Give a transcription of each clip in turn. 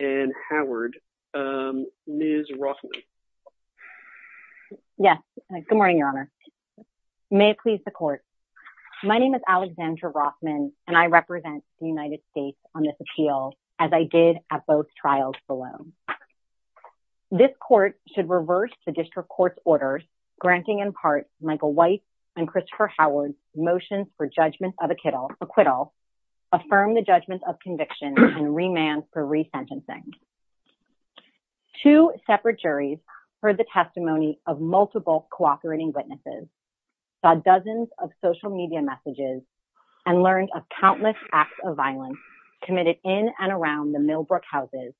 and Howard. Ms. Rothman. Yes. Good morning, Your Honor. May it please the Court. My name is Alexandra Rothman, and I represent the United States on this appeal, as I did at both trials below. This Court should reverse the District Court's orders, granting in part Michael White and Christopher Howard's motions for judgment of acquittal, affirm the judgment of conviction, and remand for resentencing. Two separate juries heard the testimony of multiple cooperating witnesses, saw dozens of social media messages, and learned of countless acts of violence committed in and around the Millbrook houses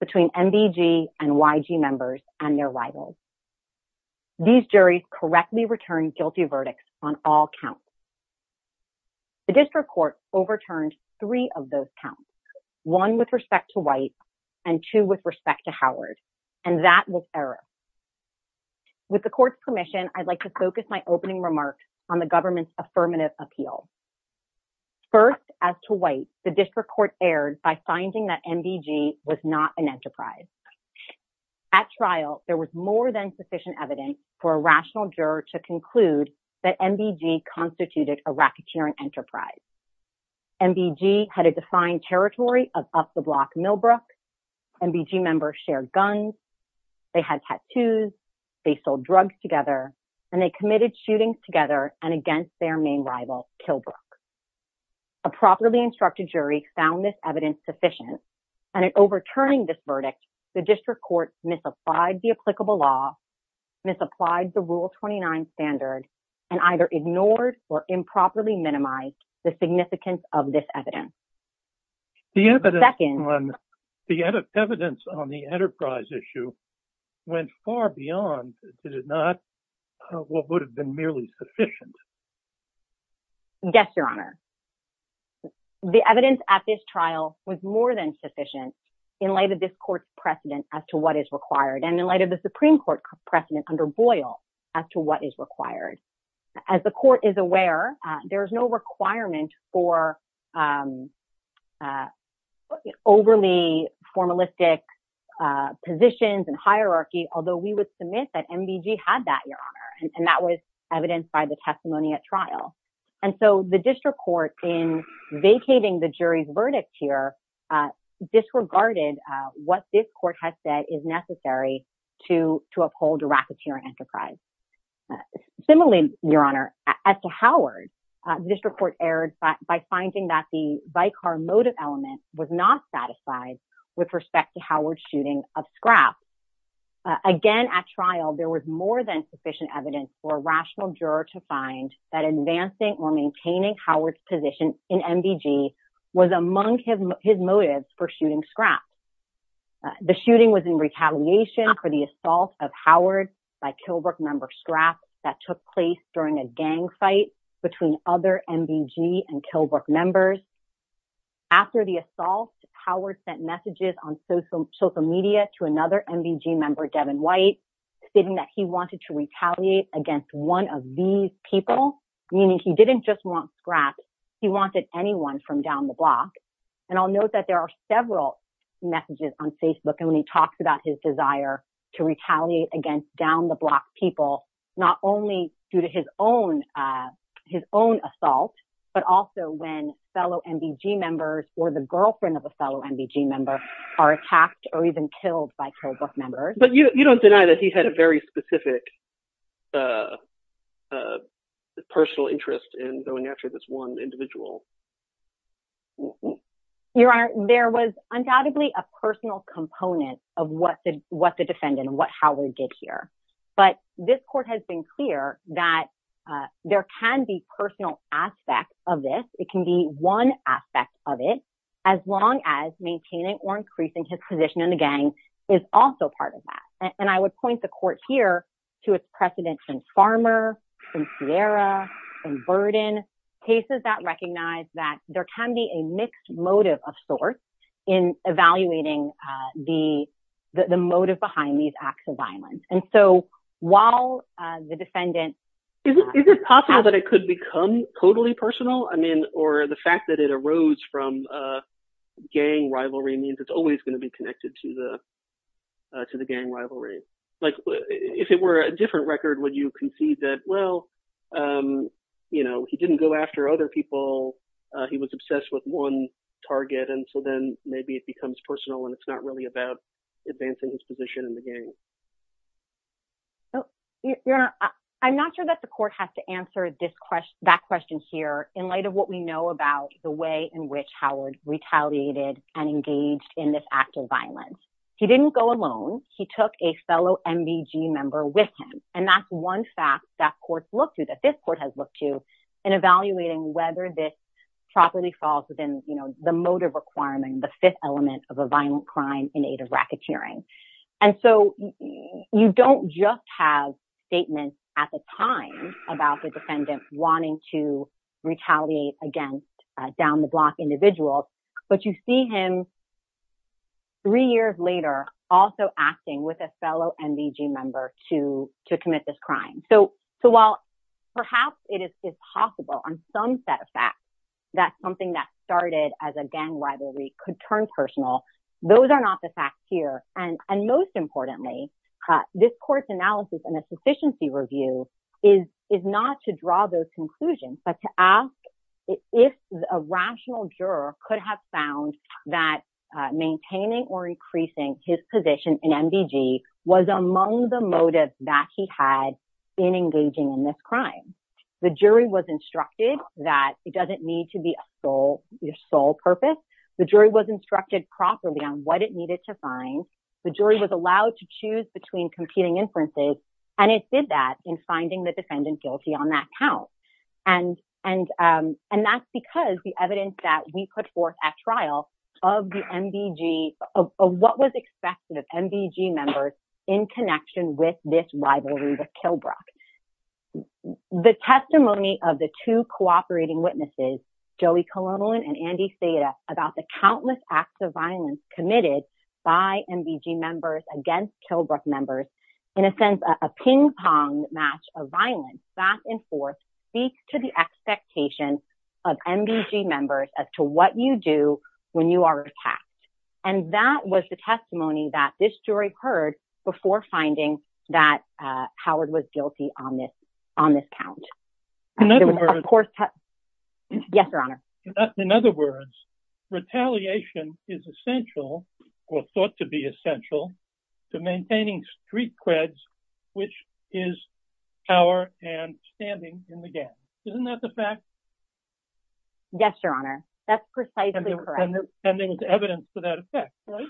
between MDG and YG members and their rivals. These juries correctly returned guilty verdicts on all counts. The District Court overturned three of those counts, one with respect to White and two with respect to Howard, and that was error. With the Court's permission, I'd like to focus my opening remarks on the government's appeal. First, as to White, the District Court erred by finding that MDG was not an enterprise. At trial, there was more than sufficient evidence for a rational juror to conclude that MDG constituted a racketeering enterprise. MDG had a defined territory of up-the-block Millbrook, MDG members shared guns, they had tattoos, they sold drugs together, and they committed shootings together and against their main rival, Killbrook. A properly instructed jury found this evidence sufficient, and in overturning this verdict, the District Court misapplied the applicable law, misapplied the Rule 29 standard, and either ignored or improperly minimized the significance of this evidence. The evidence on the enterprise issue went far beyond what would have been merely sufficient. Yes, Your Honor. The evidence at this trial was more than sufficient in light of this Court's precedent as to what is required, and in light of the Supreme Court precedent under Boyle as to what is required. As the Court is aware, there is no requirement for overly formalistic positions and hierarchy, although we would submit that MDG had that, Your Honor, and that was evidenced by the testimony at trial. And so the District Court, in vacating the jury's verdict here, disregarded what this Court has said is necessary to uphold a racketeering enterprise. Similarly, Your Honor, as to Howard, the District Court erred by finding that the vicar motive element was not satisfied with respect to Howard's shooting of Scrapp. Again, at trial, there was more than juror to find that advancing or maintaining Howard's position in MDG was among his motives for shooting Scrapp. The shooting was in retaliation for the assault of Howard by Killbrook member Scrapp that took place during a gang fight between other MDG and Killbrook members. After the assault, Howard sent messages on social media to another MDG member, Devin White, stating that he wanted to retaliate against one of these people, meaning he didn't just want Scrapp, he wanted anyone from down the block. And I'll note that there are several messages on Facebook, and when he talks about his desire to retaliate against down-the-block people, not only due to his own assault, but also when fellow MDG members, or the girlfriend of a fellow MDG member, are attacked or even killed by Killbrook members. But you don't deny that he had a very specific personal interest in going after this one individual. Your Honor, there was undoubtedly a personal component of what the defendant and what Howard did here. But this court has been clear that there can be personal aspects of this, it can be one aspect of it, as long as maintaining or increasing his position in the case is also part of that. And I would point the court here to its precedents in Farmer, in Sierra, in Burden, cases that recognize that there can be a mixed motive of sorts in evaluating the motive behind these acts of violence. And so while the defendant... Is it possible that it could become totally personal? I mean, or the fact that it arose from gang rivalry means it's always going to be connected to the gang rivalry. Like, if it were a different record, would you concede that, well, you know, he didn't go after other people, he was obsessed with one target, and so then maybe it becomes personal and it's not really about advancing his position in the gang. Your Honor, I'm not sure that the court has to answer this question, that question here, in light of what we know about the way in which Howard retaliated and engaged in this act of violence. He didn't go alone, he took a fellow MBG member with him, and that's one fact that courts look to, that this court has looked to, in evaluating whether this properly falls within the motive requirement, the fifth element of a violent crime in aid of racketeering. And so you don't just have statements at the time about the defendant wanting to down the block individuals, but you see him three years later also acting with a fellow MBG member to commit this crime. So while perhaps it is possible on some set of facts that something that started as a gang rivalry could turn personal, those are not the facts here. And most importantly, this court's analysis and conclusions, but to ask if a rational juror could have found that maintaining or increasing his position in MBG was among the motives that he had in engaging in this crime. The jury was instructed that it doesn't need to be a sole purpose, the jury was instructed properly on what it needed to find, the jury was allowed to choose between competing inferences, and it did that in finding the And that's because the evidence that we put forth at trial of the MBG, of what was expected of MBG members in connection with this rivalry with Kilbrook. The testimony of the two cooperating witnesses, Joey Colon and Andy Seda, about the countless acts of violence committed by MBG against Kilbrook members, in a sense, a ping-pong match of violence back and forth speaks to the expectation of MBG members as to what you do when you are attacked. And that was the testimony that this jury heard before finding that Howard was guilty on this count. In other words, retaliation is essential, or thought to be essential, to maintaining street creds, which is power and standing in the game. Isn't that the fact? Yes, Your Honor. That's precisely correct. And there was evidence for that effect, right?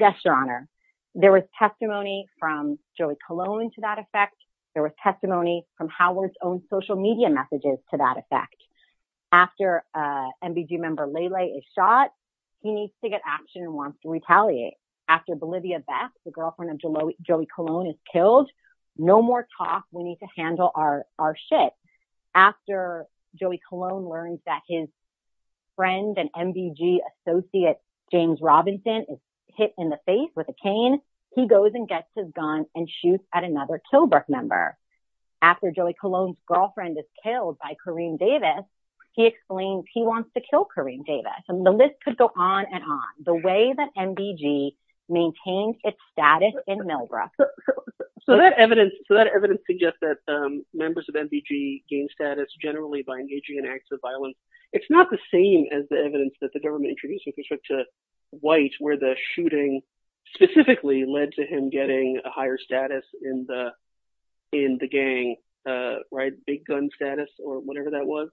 Yes, Your Honor. There was testimony from Joey Colon to that effect. There was testimony from MBG member Lele is shot. He needs to get action and wants to retaliate. After Bolivia Beth, the girlfriend of Joey Colon, is killed, no more talk. We need to handle our shit. After Joey Colon learns that his friend and MBG associate James Robinson is hit in the face with a cane, he goes and gets his gun and shoots at another Kilbrook member. After Joey Colon's wants to kill Kareem Davis. And the list could go on and on. The way that MBG maintains its status in Melbourne. So that evidence suggests that members of MBG gain status generally by engaging in acts of violence. It's not the same as the evidence that the government introduced with respect to White, where the shooting specifically led to him getting a higher status in the gang, right? Big gun status or whatever that was.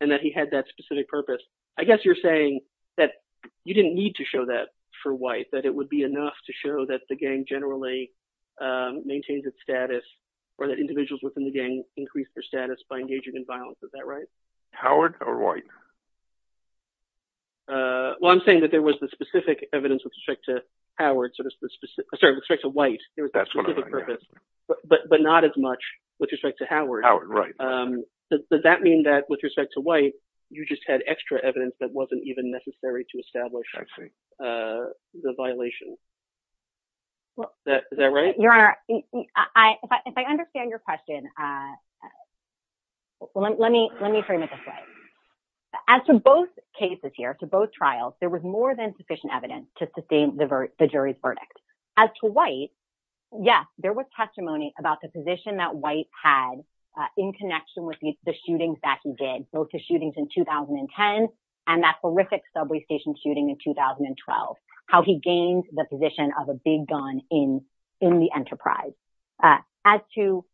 And that he had that specific purpose. I guess you're saying that you didn't need to show that for White, that it would be enough to show that the gang generally maintains its status, or that individuals within the gang increase their status by engaging in violence. Is that right? Howard or White? Well, I'm saying that there was the specific evidence with respect to White. But not as much with respect to Howard. Does that mean that with respect to White, you just had extra evidence that wasn't even necessary to establish the violation? Is that right? Your Honor, if I understand your question, let me frame it this way. As for both cases here, to both trials, there was more than sufficient evidence to sustain the jury's verdict. As to White, yes, there was testimony about the position that White had in connection with the shootings that he did, both the shootings in 2010 and that horrific subway station shooting in 2012, how he gained the position of a big gun in the enterprise. As to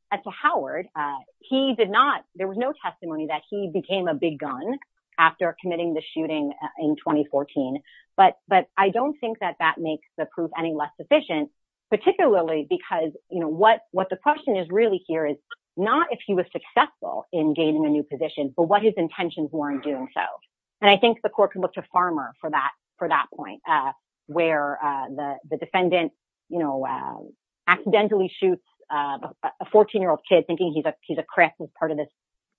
Howard, there was no testimony that he became a big gun after committing the shooting in 2014. But I don't think that that is any less sufficient, particularly because what the question is really here is not if he was successful in gaining a new position, but what his intentions were in doing so. And I think the court can look to Farmer for that point, where the defendant accidentally shoots a 14-year-old kid thinking he's a Crip as part of this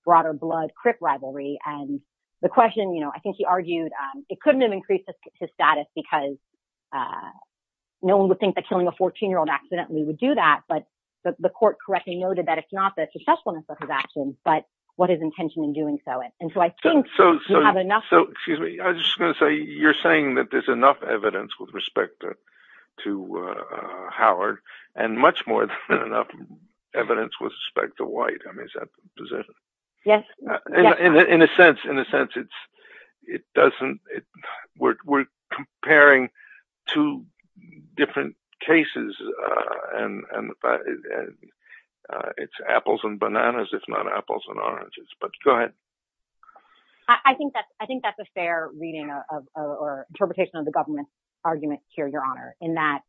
broader blood Crip rivalry. And the question, I think he argued, it couldn't have increased his status because no one would think that killing a 14-year-old accidentally would do that. But the court correctly noted that it's not the successfulness of his actions, but what his intention in doing so. And so I think you have enough... So, excuse me, I was just going to say, you're saying that there's enough evidence with respect to Howard, and much more than enough evidence with respect to White. I mean, is that the position? Yes. In a sense, it doesn't... We're comparing two different cases, and it's apples and bananas, if not apples and oranges. But go ahead. I think that's a fair reading or interpretation of the government's argument here, Your Honor, in that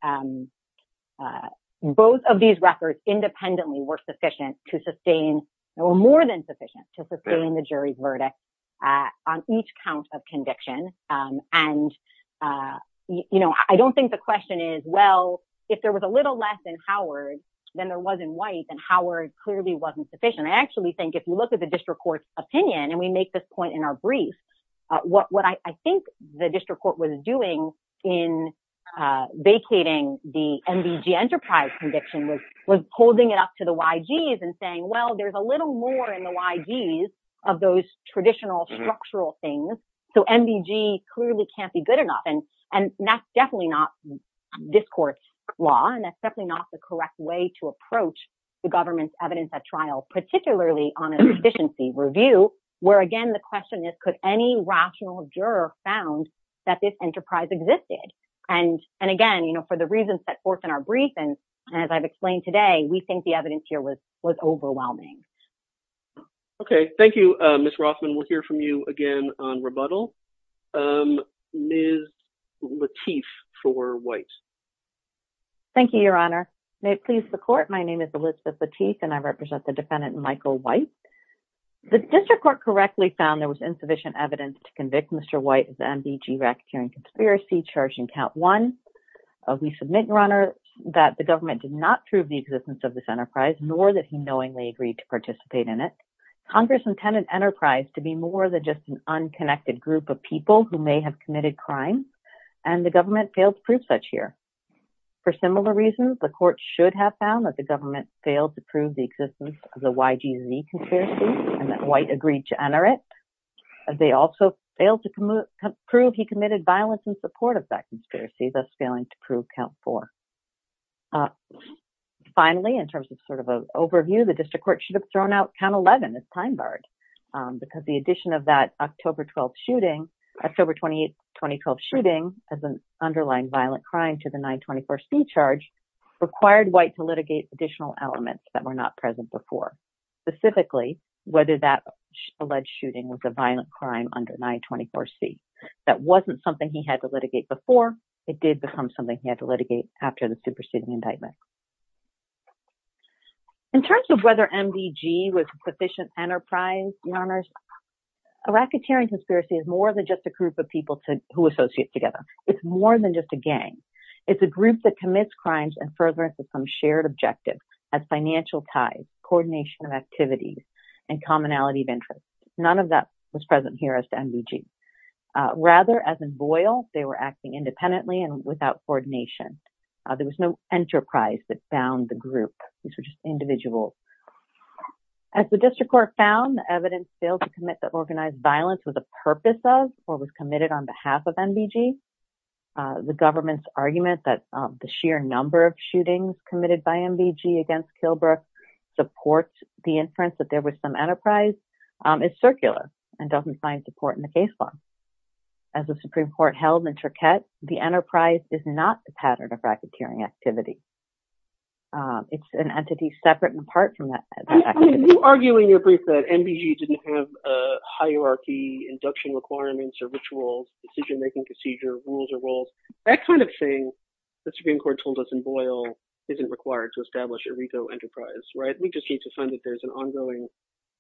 both of these records independently were sufficient to sustain, or more than sustain, the jury's verdict on each count of conviction. And I don't think the question is, well, if there was a little less in Howard than there was in White, then Howard clearly wasn't sufficient. I actually think if you look at the district court's opinion, and we make this point in our brief, what I think the district court was doing in vacating the MDG Enterprise conviction was holding it up to the YGs and saying, well, there's a little more in the YGs of those traditional, structural things, so MDG clearly can't be good enough. And that's definitely not this court's law, and that's definitely not the correct way to approach the government's evidence at trial, particularly on a sufficiency review, where, again, the question is, could any rational juror found that this enterprise existed? And again, for the reasons that forth in our brief, and as I've explained today, we think the evidence here was overwhelming. Okay. Thank you, Ms. Rothman. We'll hear from you again on rebuttal. Ms. Lateef for White. Thank you, Your Honor. May it please the court, my name is Elizabeth Lateef, and I represent the defendant, Michael White. The district court correctly found there was insufficient evidence to convict Mr. White of the MDG racketeering conspiracy charged in count one. We submit, Your Honor, that the government did not prove the existence of this enterprise, nor that he knowingly agreed to participate in it. Congress intended enterprise to be more than just an unconnected group of people who may have committed crime, and the government failed to prove such here. For similar reasons, the court should have found that the government failed to prove the existence of the YGZ conspiracy, and that White agreed to enter it. They also failed to prove he was involved. Finally, in terms of sort of an overview, the district court should have thrown out count 11 as time barred, because the addition of that October 12 shooting, October 28, 2012 shooting as an underlying violent crime to the 924C charge required White to litigate additional elements that were not present before. Specifically, whether that alleged shooting was a violent crime under 924C. That wasn't something he had to litigate before, it did become something he had to litigate after the superseding indictment. In terms of whether MDG was a proficient enterprise, Your Honors, a racketeering conspiracy is more than just a group of people who associate together. It's more than just a gang. It's a group that commits crimes and furtherance of some shared objectives, as financial ties, coordination of activities, and commonality of interest. None of that was present here as to MDG. Rather, as in Boyle, they were acting independently and without coordination. There was no enterprise that found the group. These were just individuals. As the district court found, the evidence failed to commit that organized violence was a purpose of or was committed on behalf of MDG. The government's argument that the sheer number of shootings committed by MDG against Kilbrook supports the inference that there was some enterprise is circular and doesn't find support in the case law. As the Supreme Court held in Turquette, the enterprise is not the pattern of racketeering activity. It's an entity separate and apart from that activity. You argue in your brief that MDG didn't have a hierarchy, induction requirements or rituals, decision-making procedure, rules or roles, that kind of thing the Supreme Court told us in Boyle isn't required to establish a RICO enterprise, right? We just need to find that there's an ongoing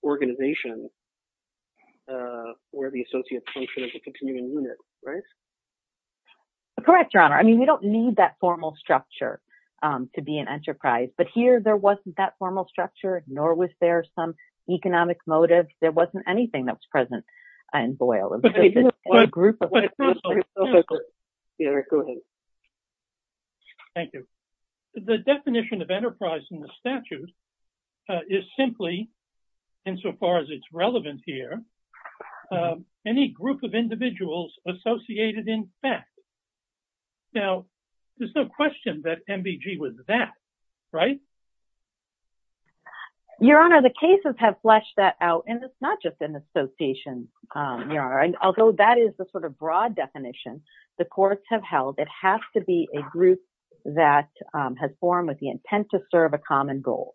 organization where the associates function as a continuing unit, right? Correct, Your Honor. I mean, we don't need that formal structure to be an enterprise. But here, there wasn't that formal structure, nor was there some economic motive. There wasn't anything that was present in Boyle. Thank you. The definition of enterprise in the statute is simply, insofar as it's relevant here, any group of individuals associated in fact. Now, there's no question that MDG was that, right? Your Honor, the cases have fleshed that out, and it's not just an association. Although that is the sort of broad definition the courts have held, it has to be a group that has the intent to serve a common goal.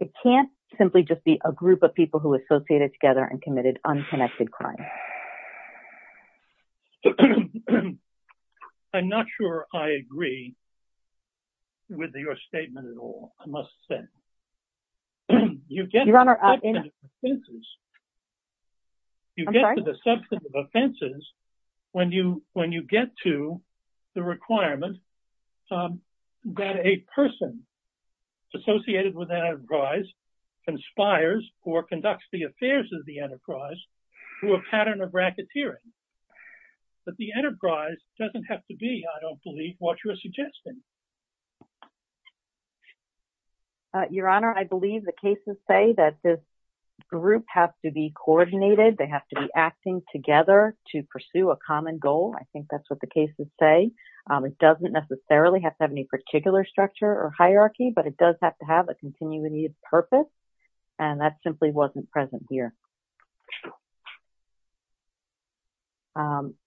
It can't simply just be a group of people who associated together and committed unconnected crime. I'm not sure I agree with your statement at all, I must say. You get to the substantive offenses when you get to the requirement that a person associated with an enterprise conspires or conducts the affairs of the enterprise through a pattern of racketeering. But the enterprise doesn't have to be, I don't believe, what you're suggesting. Your Honor, I believe the cases say that this group has to be coordinated. They have to be acting together to pursue a common goal. I think necessarily have to have any particular structure or hierarchy, but it does have to have a continuity of purpose, and that simply wasn't present here.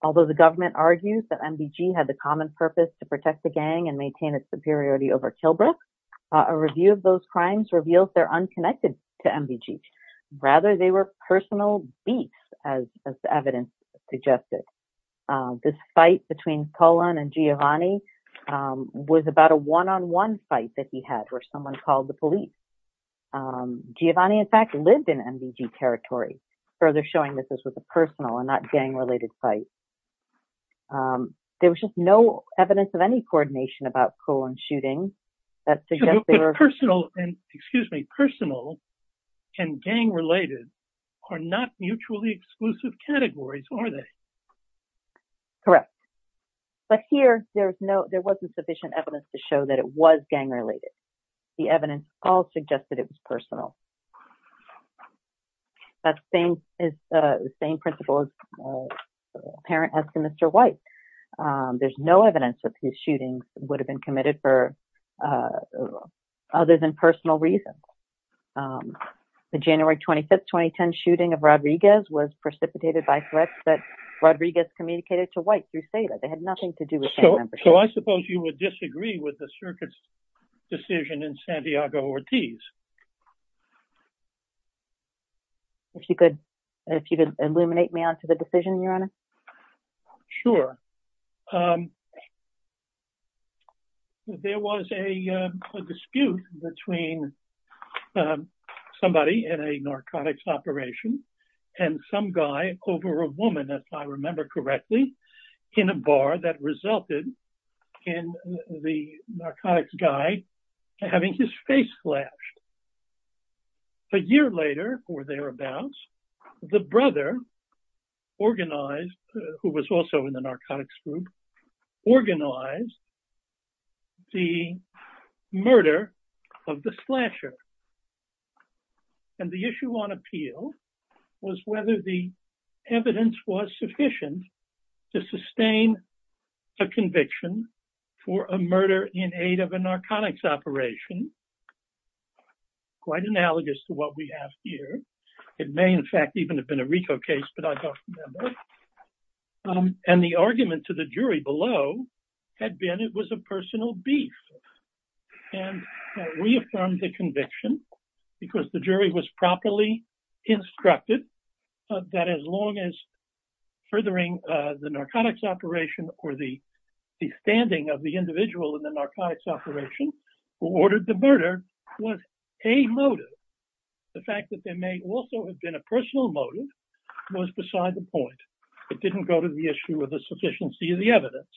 Although the government argues that MDG had the common purpose to protect the gang and maintain its superiority over Kilbrook, a review of those crimes reveals they're unconnected to MDG. Rather, they were personal beasts, as the evidence suggested. This fight between Cullen and Giovanni was about a one-on-one fight that he had, where someone called the police. Giovanni, in fact, lived in MDG territory, further showing that this was a personal and not gang-related fight. There was just no evidence of any coordination about Cullen's shooting. But personal and gang-related are not mutually exclusive categories, are they? Correct. But here, there wasn't sufficient evidence to show that it was gang-related. The evidence all suggested it was personal. That same principle is apparent as for Mr. White. There's no evidence that these shootings would have been committed for other than personal reasons. The January 25, 2010 shooting of Rodriguez was precipitated by threats that Rodriguez communicated to White through SEDA. They had nothing to do with gang membership. So I suppose you would disagree with the circuit's decision in Santiago-Ortiz? If you could illuminate me onto the decision, Your Honor. Sure. There was a dispute between somebody in a narcotics operation and some guy over a woman, if I remember correctly, in a bar that resulted in the narcotics guy having his face slashed. A year later or thereabouts, the brother, who was also in the narcotics group, organized the murder of the slasher. And the issue on appeal was whether the evidence was sufficient to sustain a conviction for a murder in aid of a narcotics operation, quite analogous to what we have here. It may, in fact, even have been a RICO case, but I don't remember. And the argument to the jury below had been it was a personal beef. And we affirmed the conviction because the jury was properly instructed that as long as narcotics operation or the standing of the individual in the narcotics operation who ordered the murder was a motive, the fact that there may also have been a personal motive was beside the point. It didn't go to the issue of the sufficiency of the evidence.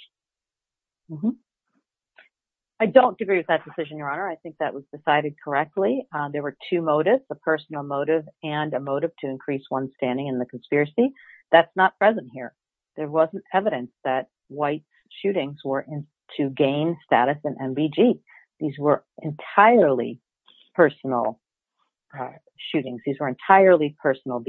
I don't agree with that decision, Your Honor. I think that was decided correctly. There were two motives, a personal motive and a motive to increase one standing in the conspiracy. That's not present here. There wasn't evidence that white shootings were to gain status in NBG. These were entirely personal shootings. These were entirely personal.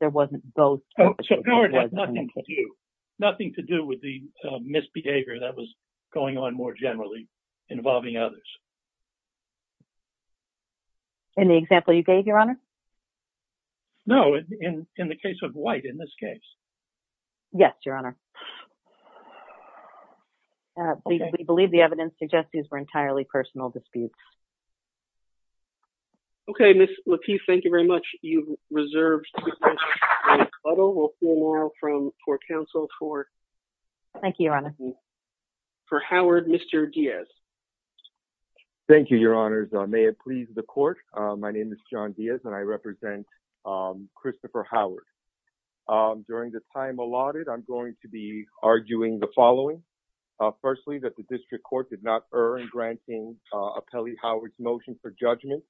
There wasn't both. Oh, so it had nothing to do with the misbehavior that was going on more generally involving others. No, in the case of white, in this case. Yes, Your Honor. We believe the evidence suggests these were entirely personal disputes. Okay, Ms. LaPeef, thank you very much. You've reserved two minutes for a cuddle. We'll hear more from court counsel for... Thank you, Your Honor. ...for Howard, Mr. Diaz. Thank you, Your Honors. May it please the court. My name is John Diaz and I represent Christopher Howard. During the time allotted, I'm going to be arguing the following. Firstly, that the district court did not err in granting Apelli Howard's motion for judgment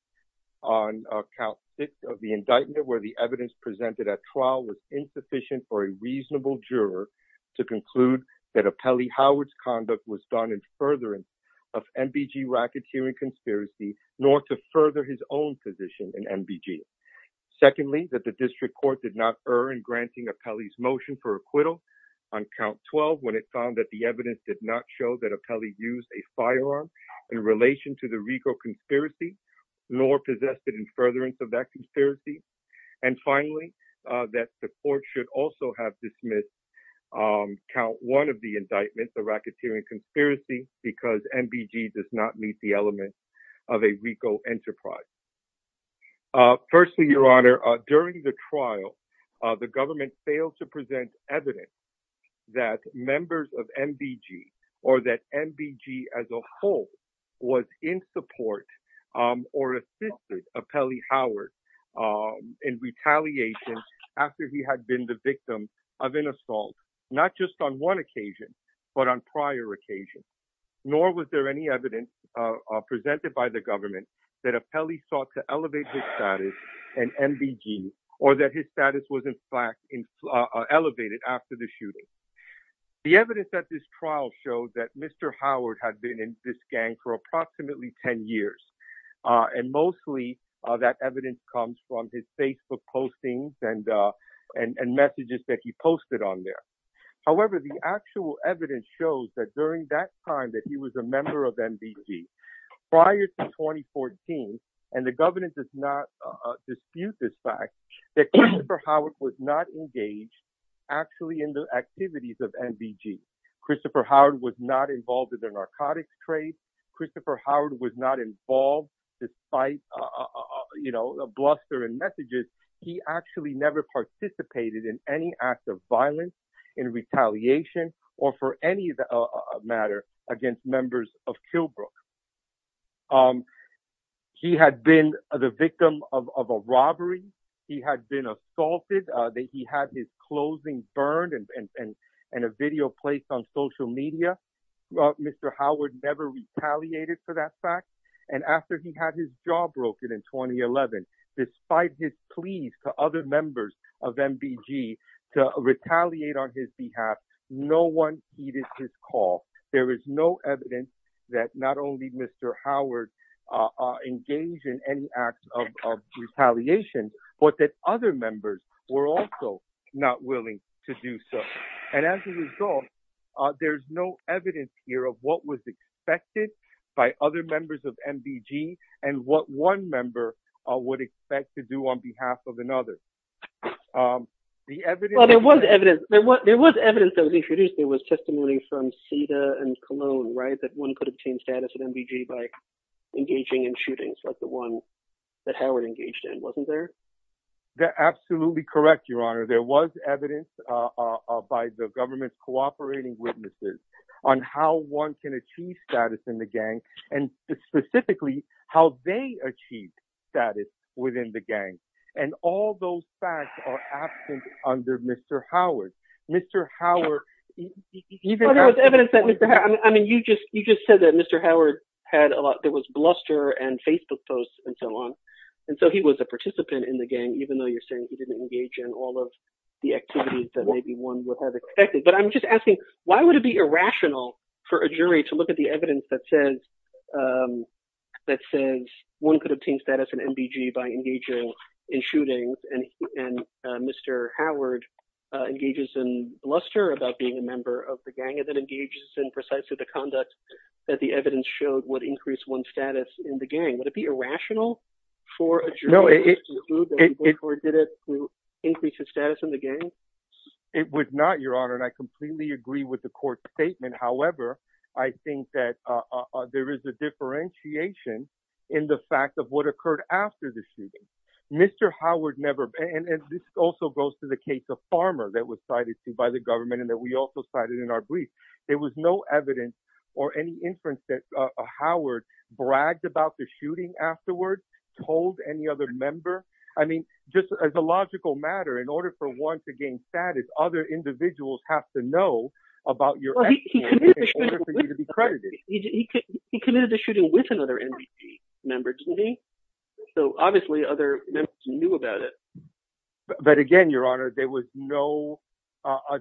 on count six of the indictment, where the evidence presented at trial was insufficient for a reasonable juror to conclude that Apelli Howard's conduct was done in furtherance of NBG racketeering conspiracy, nor to further his own position in NBG. Secondly, that the district court did not err in granting Apelli's motion for acquittal on count 12, when it found that the evidence did not show that Apelli used a firearm in relation to the RICO conspiracy, nor possessed it in furtherance of that conspiracy. And finally, that the court should also have dismissed count one of the indictments, the racketeering conspiracy, because NBG does not meet the element of a RICO enterprise. Firstly, Your Honor, during the trial, the government failed to present evidence that members of NBG or that NBG as a whole was in support or assisted Apelli Howard in retaliation after he had been the victim of an assault, not just on one occasion, but on prior occasions. Nor was there any evidence presented by the government that Apelli sought to elevate his status in NBG, or that his status was in fact elevated after the shooting. The evidence at this trial showed that Mr. Howard had been in this gang for approximately 10 years. And mostly that evidence comes from his Facebook postings and messages that he posted on there. However, the actual evidence shows that during that time that he was a member of NBG prior to 2014, and the government does not dispute this fact, that Christopher Howard was not engaged actually in the activities of NBG. Christopher Howard was not involved in their narcotics trade. Christopher Howard was not involved despite, you know, bluster and messages. He actually never participated in any act of violence, in retaliation, or for any matter against members of Killbrook. He had been the victim of a robbery. He had been assaulted. He had his clothing burned and a video placed on social media. Mr. Howard never retaliated for that fact. And after he had his jaw broken in 2011, despite his pleas to other members of NBG to retaliate on his behalf, no one heeded his call. There is no evidence that not only Mr. Howard engaged in any acts of retaliation, but that other members were also not willing to do so. And as a result, there's no evidence here of what was expected by other members of NBG and what one member would expect to do on behalf of another. There was evidence that was introduced. There was testimony from CETA and Cologne, right, that one could obtain status at NBG by engaging in shootings. That's the one that Howard engaged in, wasn't there? They're absolutely correct, Your Honor. There was evidence by the government's cooperating witnesses on how one can achieve status in the gang, and specifically how they achieved status within the gang. And all those facts are absent under Mr. Howard. Mr. Howard... Well, there was evidence that Mr. Howard... I mean, you just said that Mr. Howard had a lot... Bluster and Facebook posts and so on. And so he was a participant in the gang, even though you're saying he didn't engage in all of the activities that maybe one would have expected. But I'm just asking, why would it be irrational for a jury to look at the evidence that says one could obtain status in NBG by engaging in shootings, and Mr. Howard engages in bluster about being a member of the gang that engages in precisely the conduct that the evidence showed would increase one's status in the gang? Would it be irrational for a jury to conclude that he did it to increase his status in the gang? It would not, Your Honor. And I completely agree with the court's statement. However, I think that there is a differentiation in the fact of what occurred after the shooting. Mr. Howard never... And this also goes to the case of Farmer that was cited to by the government, and that we also cited in our brief. There was no evidence or any inference that Howard bragged about the shooting afterwards, told any other member. I mean, just as a logical matter, in order for one to gain status, other individuals have to know about your... He committed the shooting with another NBG member, didn't he? So obviously, other members knew about it. But again, Your Honor, there was no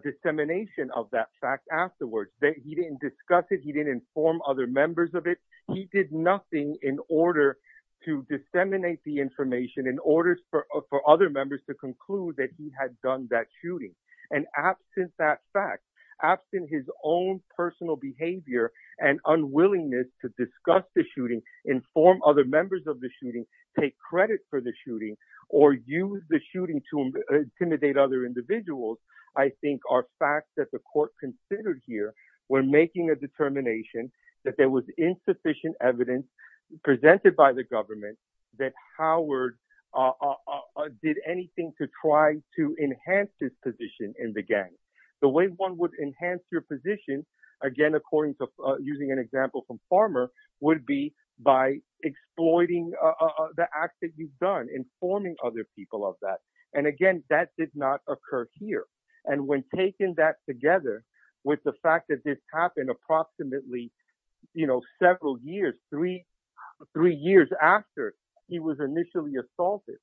dissemination of that fact afterwards. He didn't discuss it. He didn't inform other members of it. He did nothing in order to disseminate the information, in order for other members to conclude that he had done that shooting. And absent that fact, absent his own personal behavior and unwillingness to discuss the shooting, inform other members of the shooting, take credit for the shooting, or use the shooting to intimidate other individuals, I think are facts that the court considered here when making a determination that there was insufficient evidence presented by the government that Howard did anything to try to enhance his position in the gang. The way one would enhance your position, again, using an example from Farmer, would be by exploiting the acts that you've done, informing other people of that. And again, that did not occur here. And when taking that together with the fact that this happened approximately several years, three years after he was initially assaulted,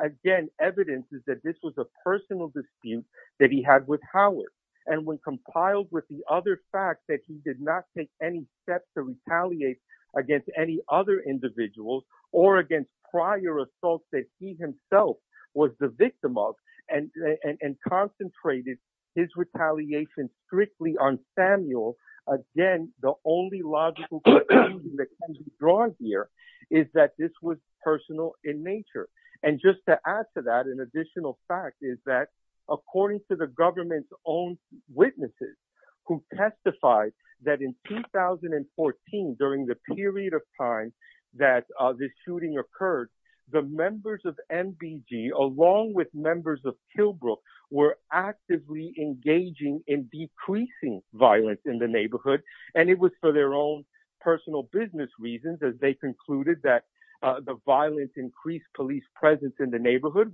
again, evidence is that this was a personal dispute that he had with Howard. And when compiled with the other fact that he did not take any steps to retaliate against any other individuals or against prior assaults that he himself was the victim of, and concentrated his retaliation strictly on Samuel, again, the only logical conclusion that can be drawn here is that this was personal in nature. And just to add to that, an additional fact is that, according to the government's own witnesses who testified that in 2014, during the period of time that this shooting occurred, the members of MBG, along with members of Killbrook, were actively engaging in decreasing violence in the neighborhood. And it was for their own personal business reasons as they concluded that the violence increased police presence in the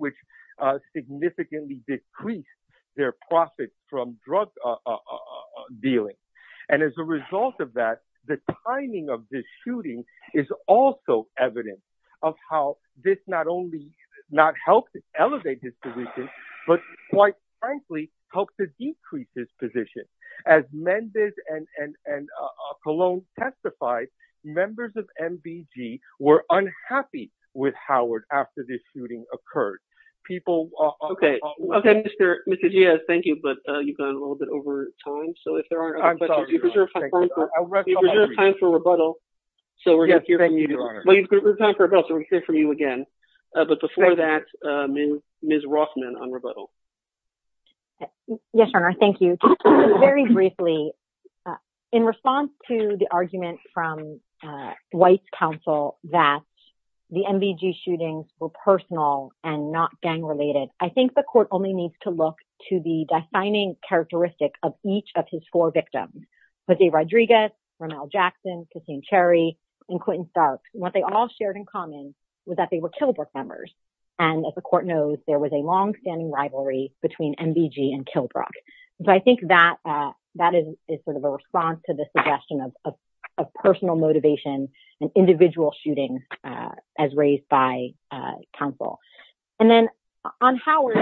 their profits from drug dealing. And as a result of that, the timing of this shooting is also evidence of how this not only not helped elevate his position, but quite frankly, helped to decrease his position. As Mendez and Cologne testified, members of MBG were unhappy with Howard after this shooting occurred. People... Okay. Okay, Mr. Diaz, thank you. But you've gone a little bit over time. So if there aren't... I'm sorry, Your Honor. We reserve time for rebuttal. So we're going to hear from you again. But before that, Ms. Rothman on rebuttal. Yes, Your Honor. Thank you. Very briefly, in response to the argument from White's counsel that the MBG shootings were personal and not gang related, I think the court only needs to look to the defining characteristic of each of his four victims, Jose Rodriguez, Rommel Jackson, Cassine Cherry, and Quentin Stark. What they all shared in common was that they were Killbrook members. And as the court knows, there was a long standing rivalry between MBG and Killbrook. But I think that is sort of a response to the suggestion of personal motivation, an individual shooting as raised by counsel. And then on Howard,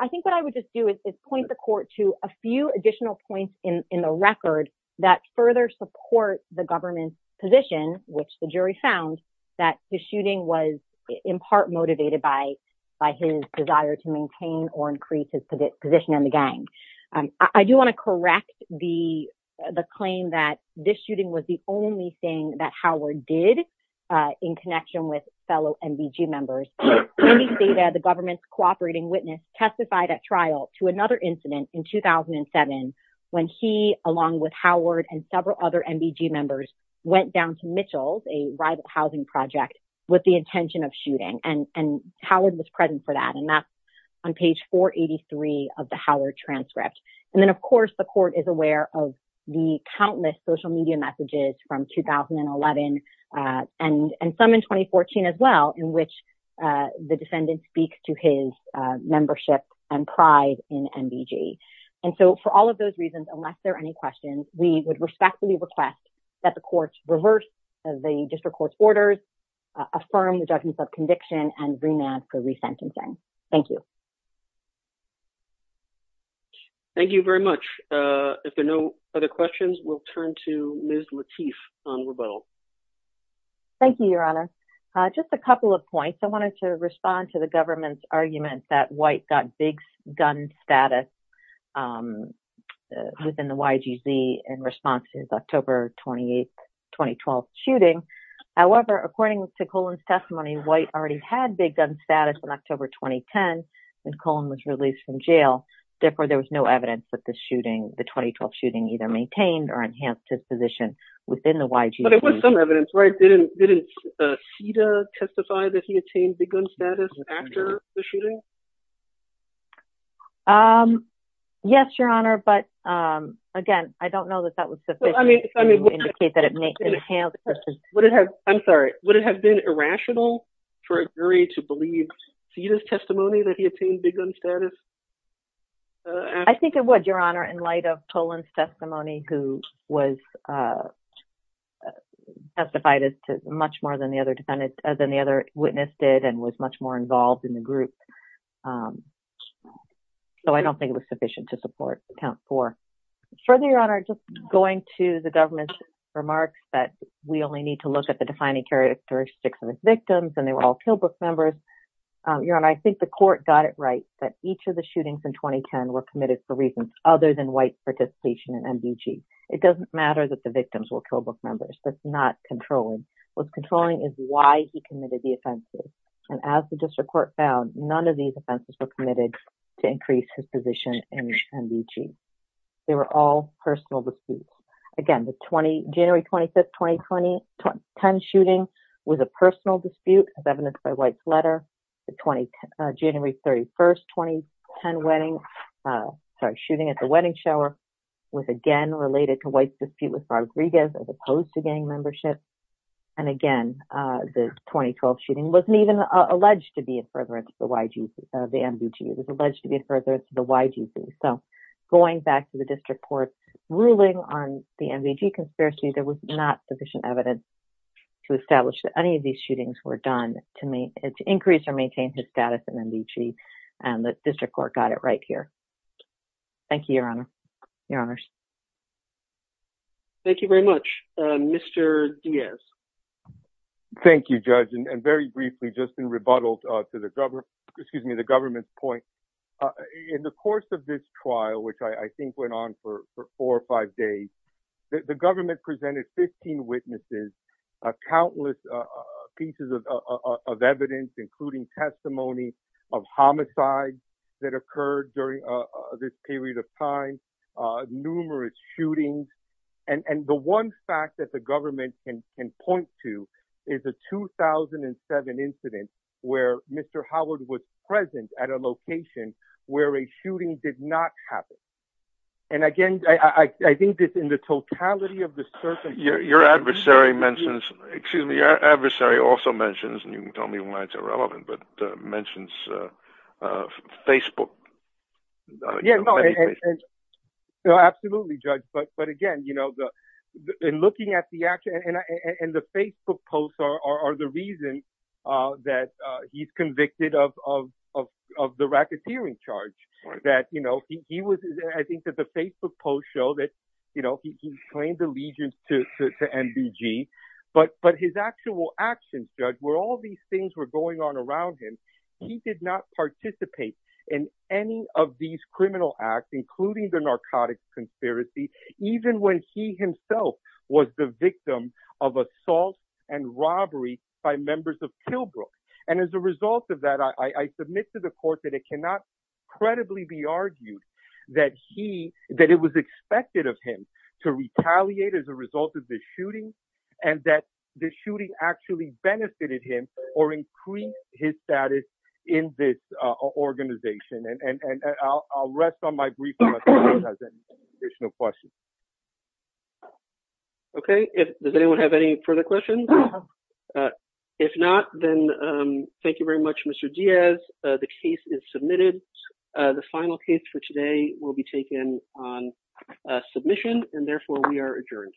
I think what I would just do is point the court to a few additional points in the record that further support the government's position, which the jury found that the shooting was in part motivated by his desire to maintain or increase his position in the gang. I do want to correct the claim that this shooting was the only thing that Howard did in connection with fellow MBG members. The government's cooperating witness testified at trial to another incident in 2007 when he, along with Howard and several other MBG members, went down to Mitchell's, a rival housing project, with the intention of shooting. And Howard was present for that. And that's on page 483 of the Howard transcript. And then, of course, the court is aware of the countless social media messages from 2011 and some in 2014 as well, in which the defendant speaks to his membership and pride in MBG. And so for all of those reasons, unless there are any questions, we would respectfully request that the court reverse the district court's orders, affirm the judgment of conviction and remand for resentencing. Thank you. Thank you very much. If there are no other questions, we'll turn to Ms. Lateef on rebuttal. Thank you, Your Honor. Just a couple of points. I wanted to respond to the government's argument that White got big gun status within the YGZ in response to the October 28, 2012 shooting. However, according to Colon's testimony, White already had big gun status in October 2010 when Colon was released from jail. Therefore, there was no evidence that the shooting, the 2012 shooting, either maintained or enhanced his position within the YGZ. But it was some evidence, right? Didn't CETA testify that he attained big gun status after the shooting? Yes, Your Honor. But again, I don't know that that was sufficient to indicate that. I'm sorry. Would it have been irrational for a jury to believe CETA's testimony that he attained big gun status? I think it would, Your Honor, in light of Colon's testimony, who was testified as to much more than the other witness did and was much more involved in the group. So I don't think it was sufficient to support count four. Further, Your Honor, just going to the government's remarks that we only need to look at the defining characteristics of his victims, and they were all Kill Book members. Your Honor, I think the court got it right that each of the shootings in 2010 were committed for reasons other than White's participation in MDG. It doesn't matter that the victims were Kill Book members. That's not controlling. What's controlling is why he committed the offenses. And as the district court found, none of these offenses were committed to increase his position in MDG. They were all personal disputes. Again, the January 25, 2010 shooting was a personal dispute, as evidenced by White's letter. The January 31, 2010 shooting at the wedding shower was, again, related to White's dispute with Rodriguez as opposed to gang membership. And again, the 2012 shooting wasn't even alleged to be a furtherance of the MDG. It was alleged to be a furtherance of the YGC. So going back to the district court ruling on the MDG conspiracy, there was not sufficient evidence to establish that any of these shootings were done to increase or maintain his status in MDG, and the district court got it right here. Thank you, Your Honor. Your Honors. Thank you very much. Mr. Diaz. Thank you, Judge. And very briefly, just in rebuttal to the government's point, in the course of this trial, which I think went on for four or five days, the government presented 15 witnesses, countless pieces of evidence, including testimony of homicides that occurred during this period of time, numerous shootings. And the one fact the government can point to is a 2007 incident where Mr. Howard was present at a location where a shooting did not happen. And again, I think that in the totality of the circumstances... Your adversary mentions, excuse me, your adversary also mentions, and you can tell me why it's irrelevant, but mentions Facebook. No, absolutely, Judge. But again, in looking at the action, and the Facebook posts are the reason that he's convicted of the racketeering charge. I think that the Facebook posts show that he claimed allegiance to MDG, but his actual actions, Judge, where all these things were going on around him, he did not participate in any of these criminal acts, including the narcotics conspiracy, even when he himself was the victim of assault and robbery by members of Killbrook. And as a result of that, I submit to the court that it cannot credibly be argued that it was expected of him to retaliate as a result of the shooting, and that the shooting actually benefited him, or increased his status in this organization. And I'll rest on my brief, unless anyone has any additional questions. Okay. Does anyone have any further questions? If not, then thank you very much, Mr. Diaz. The case is submitted. The final case for today will be taken on submission, and therefore we are adjourned.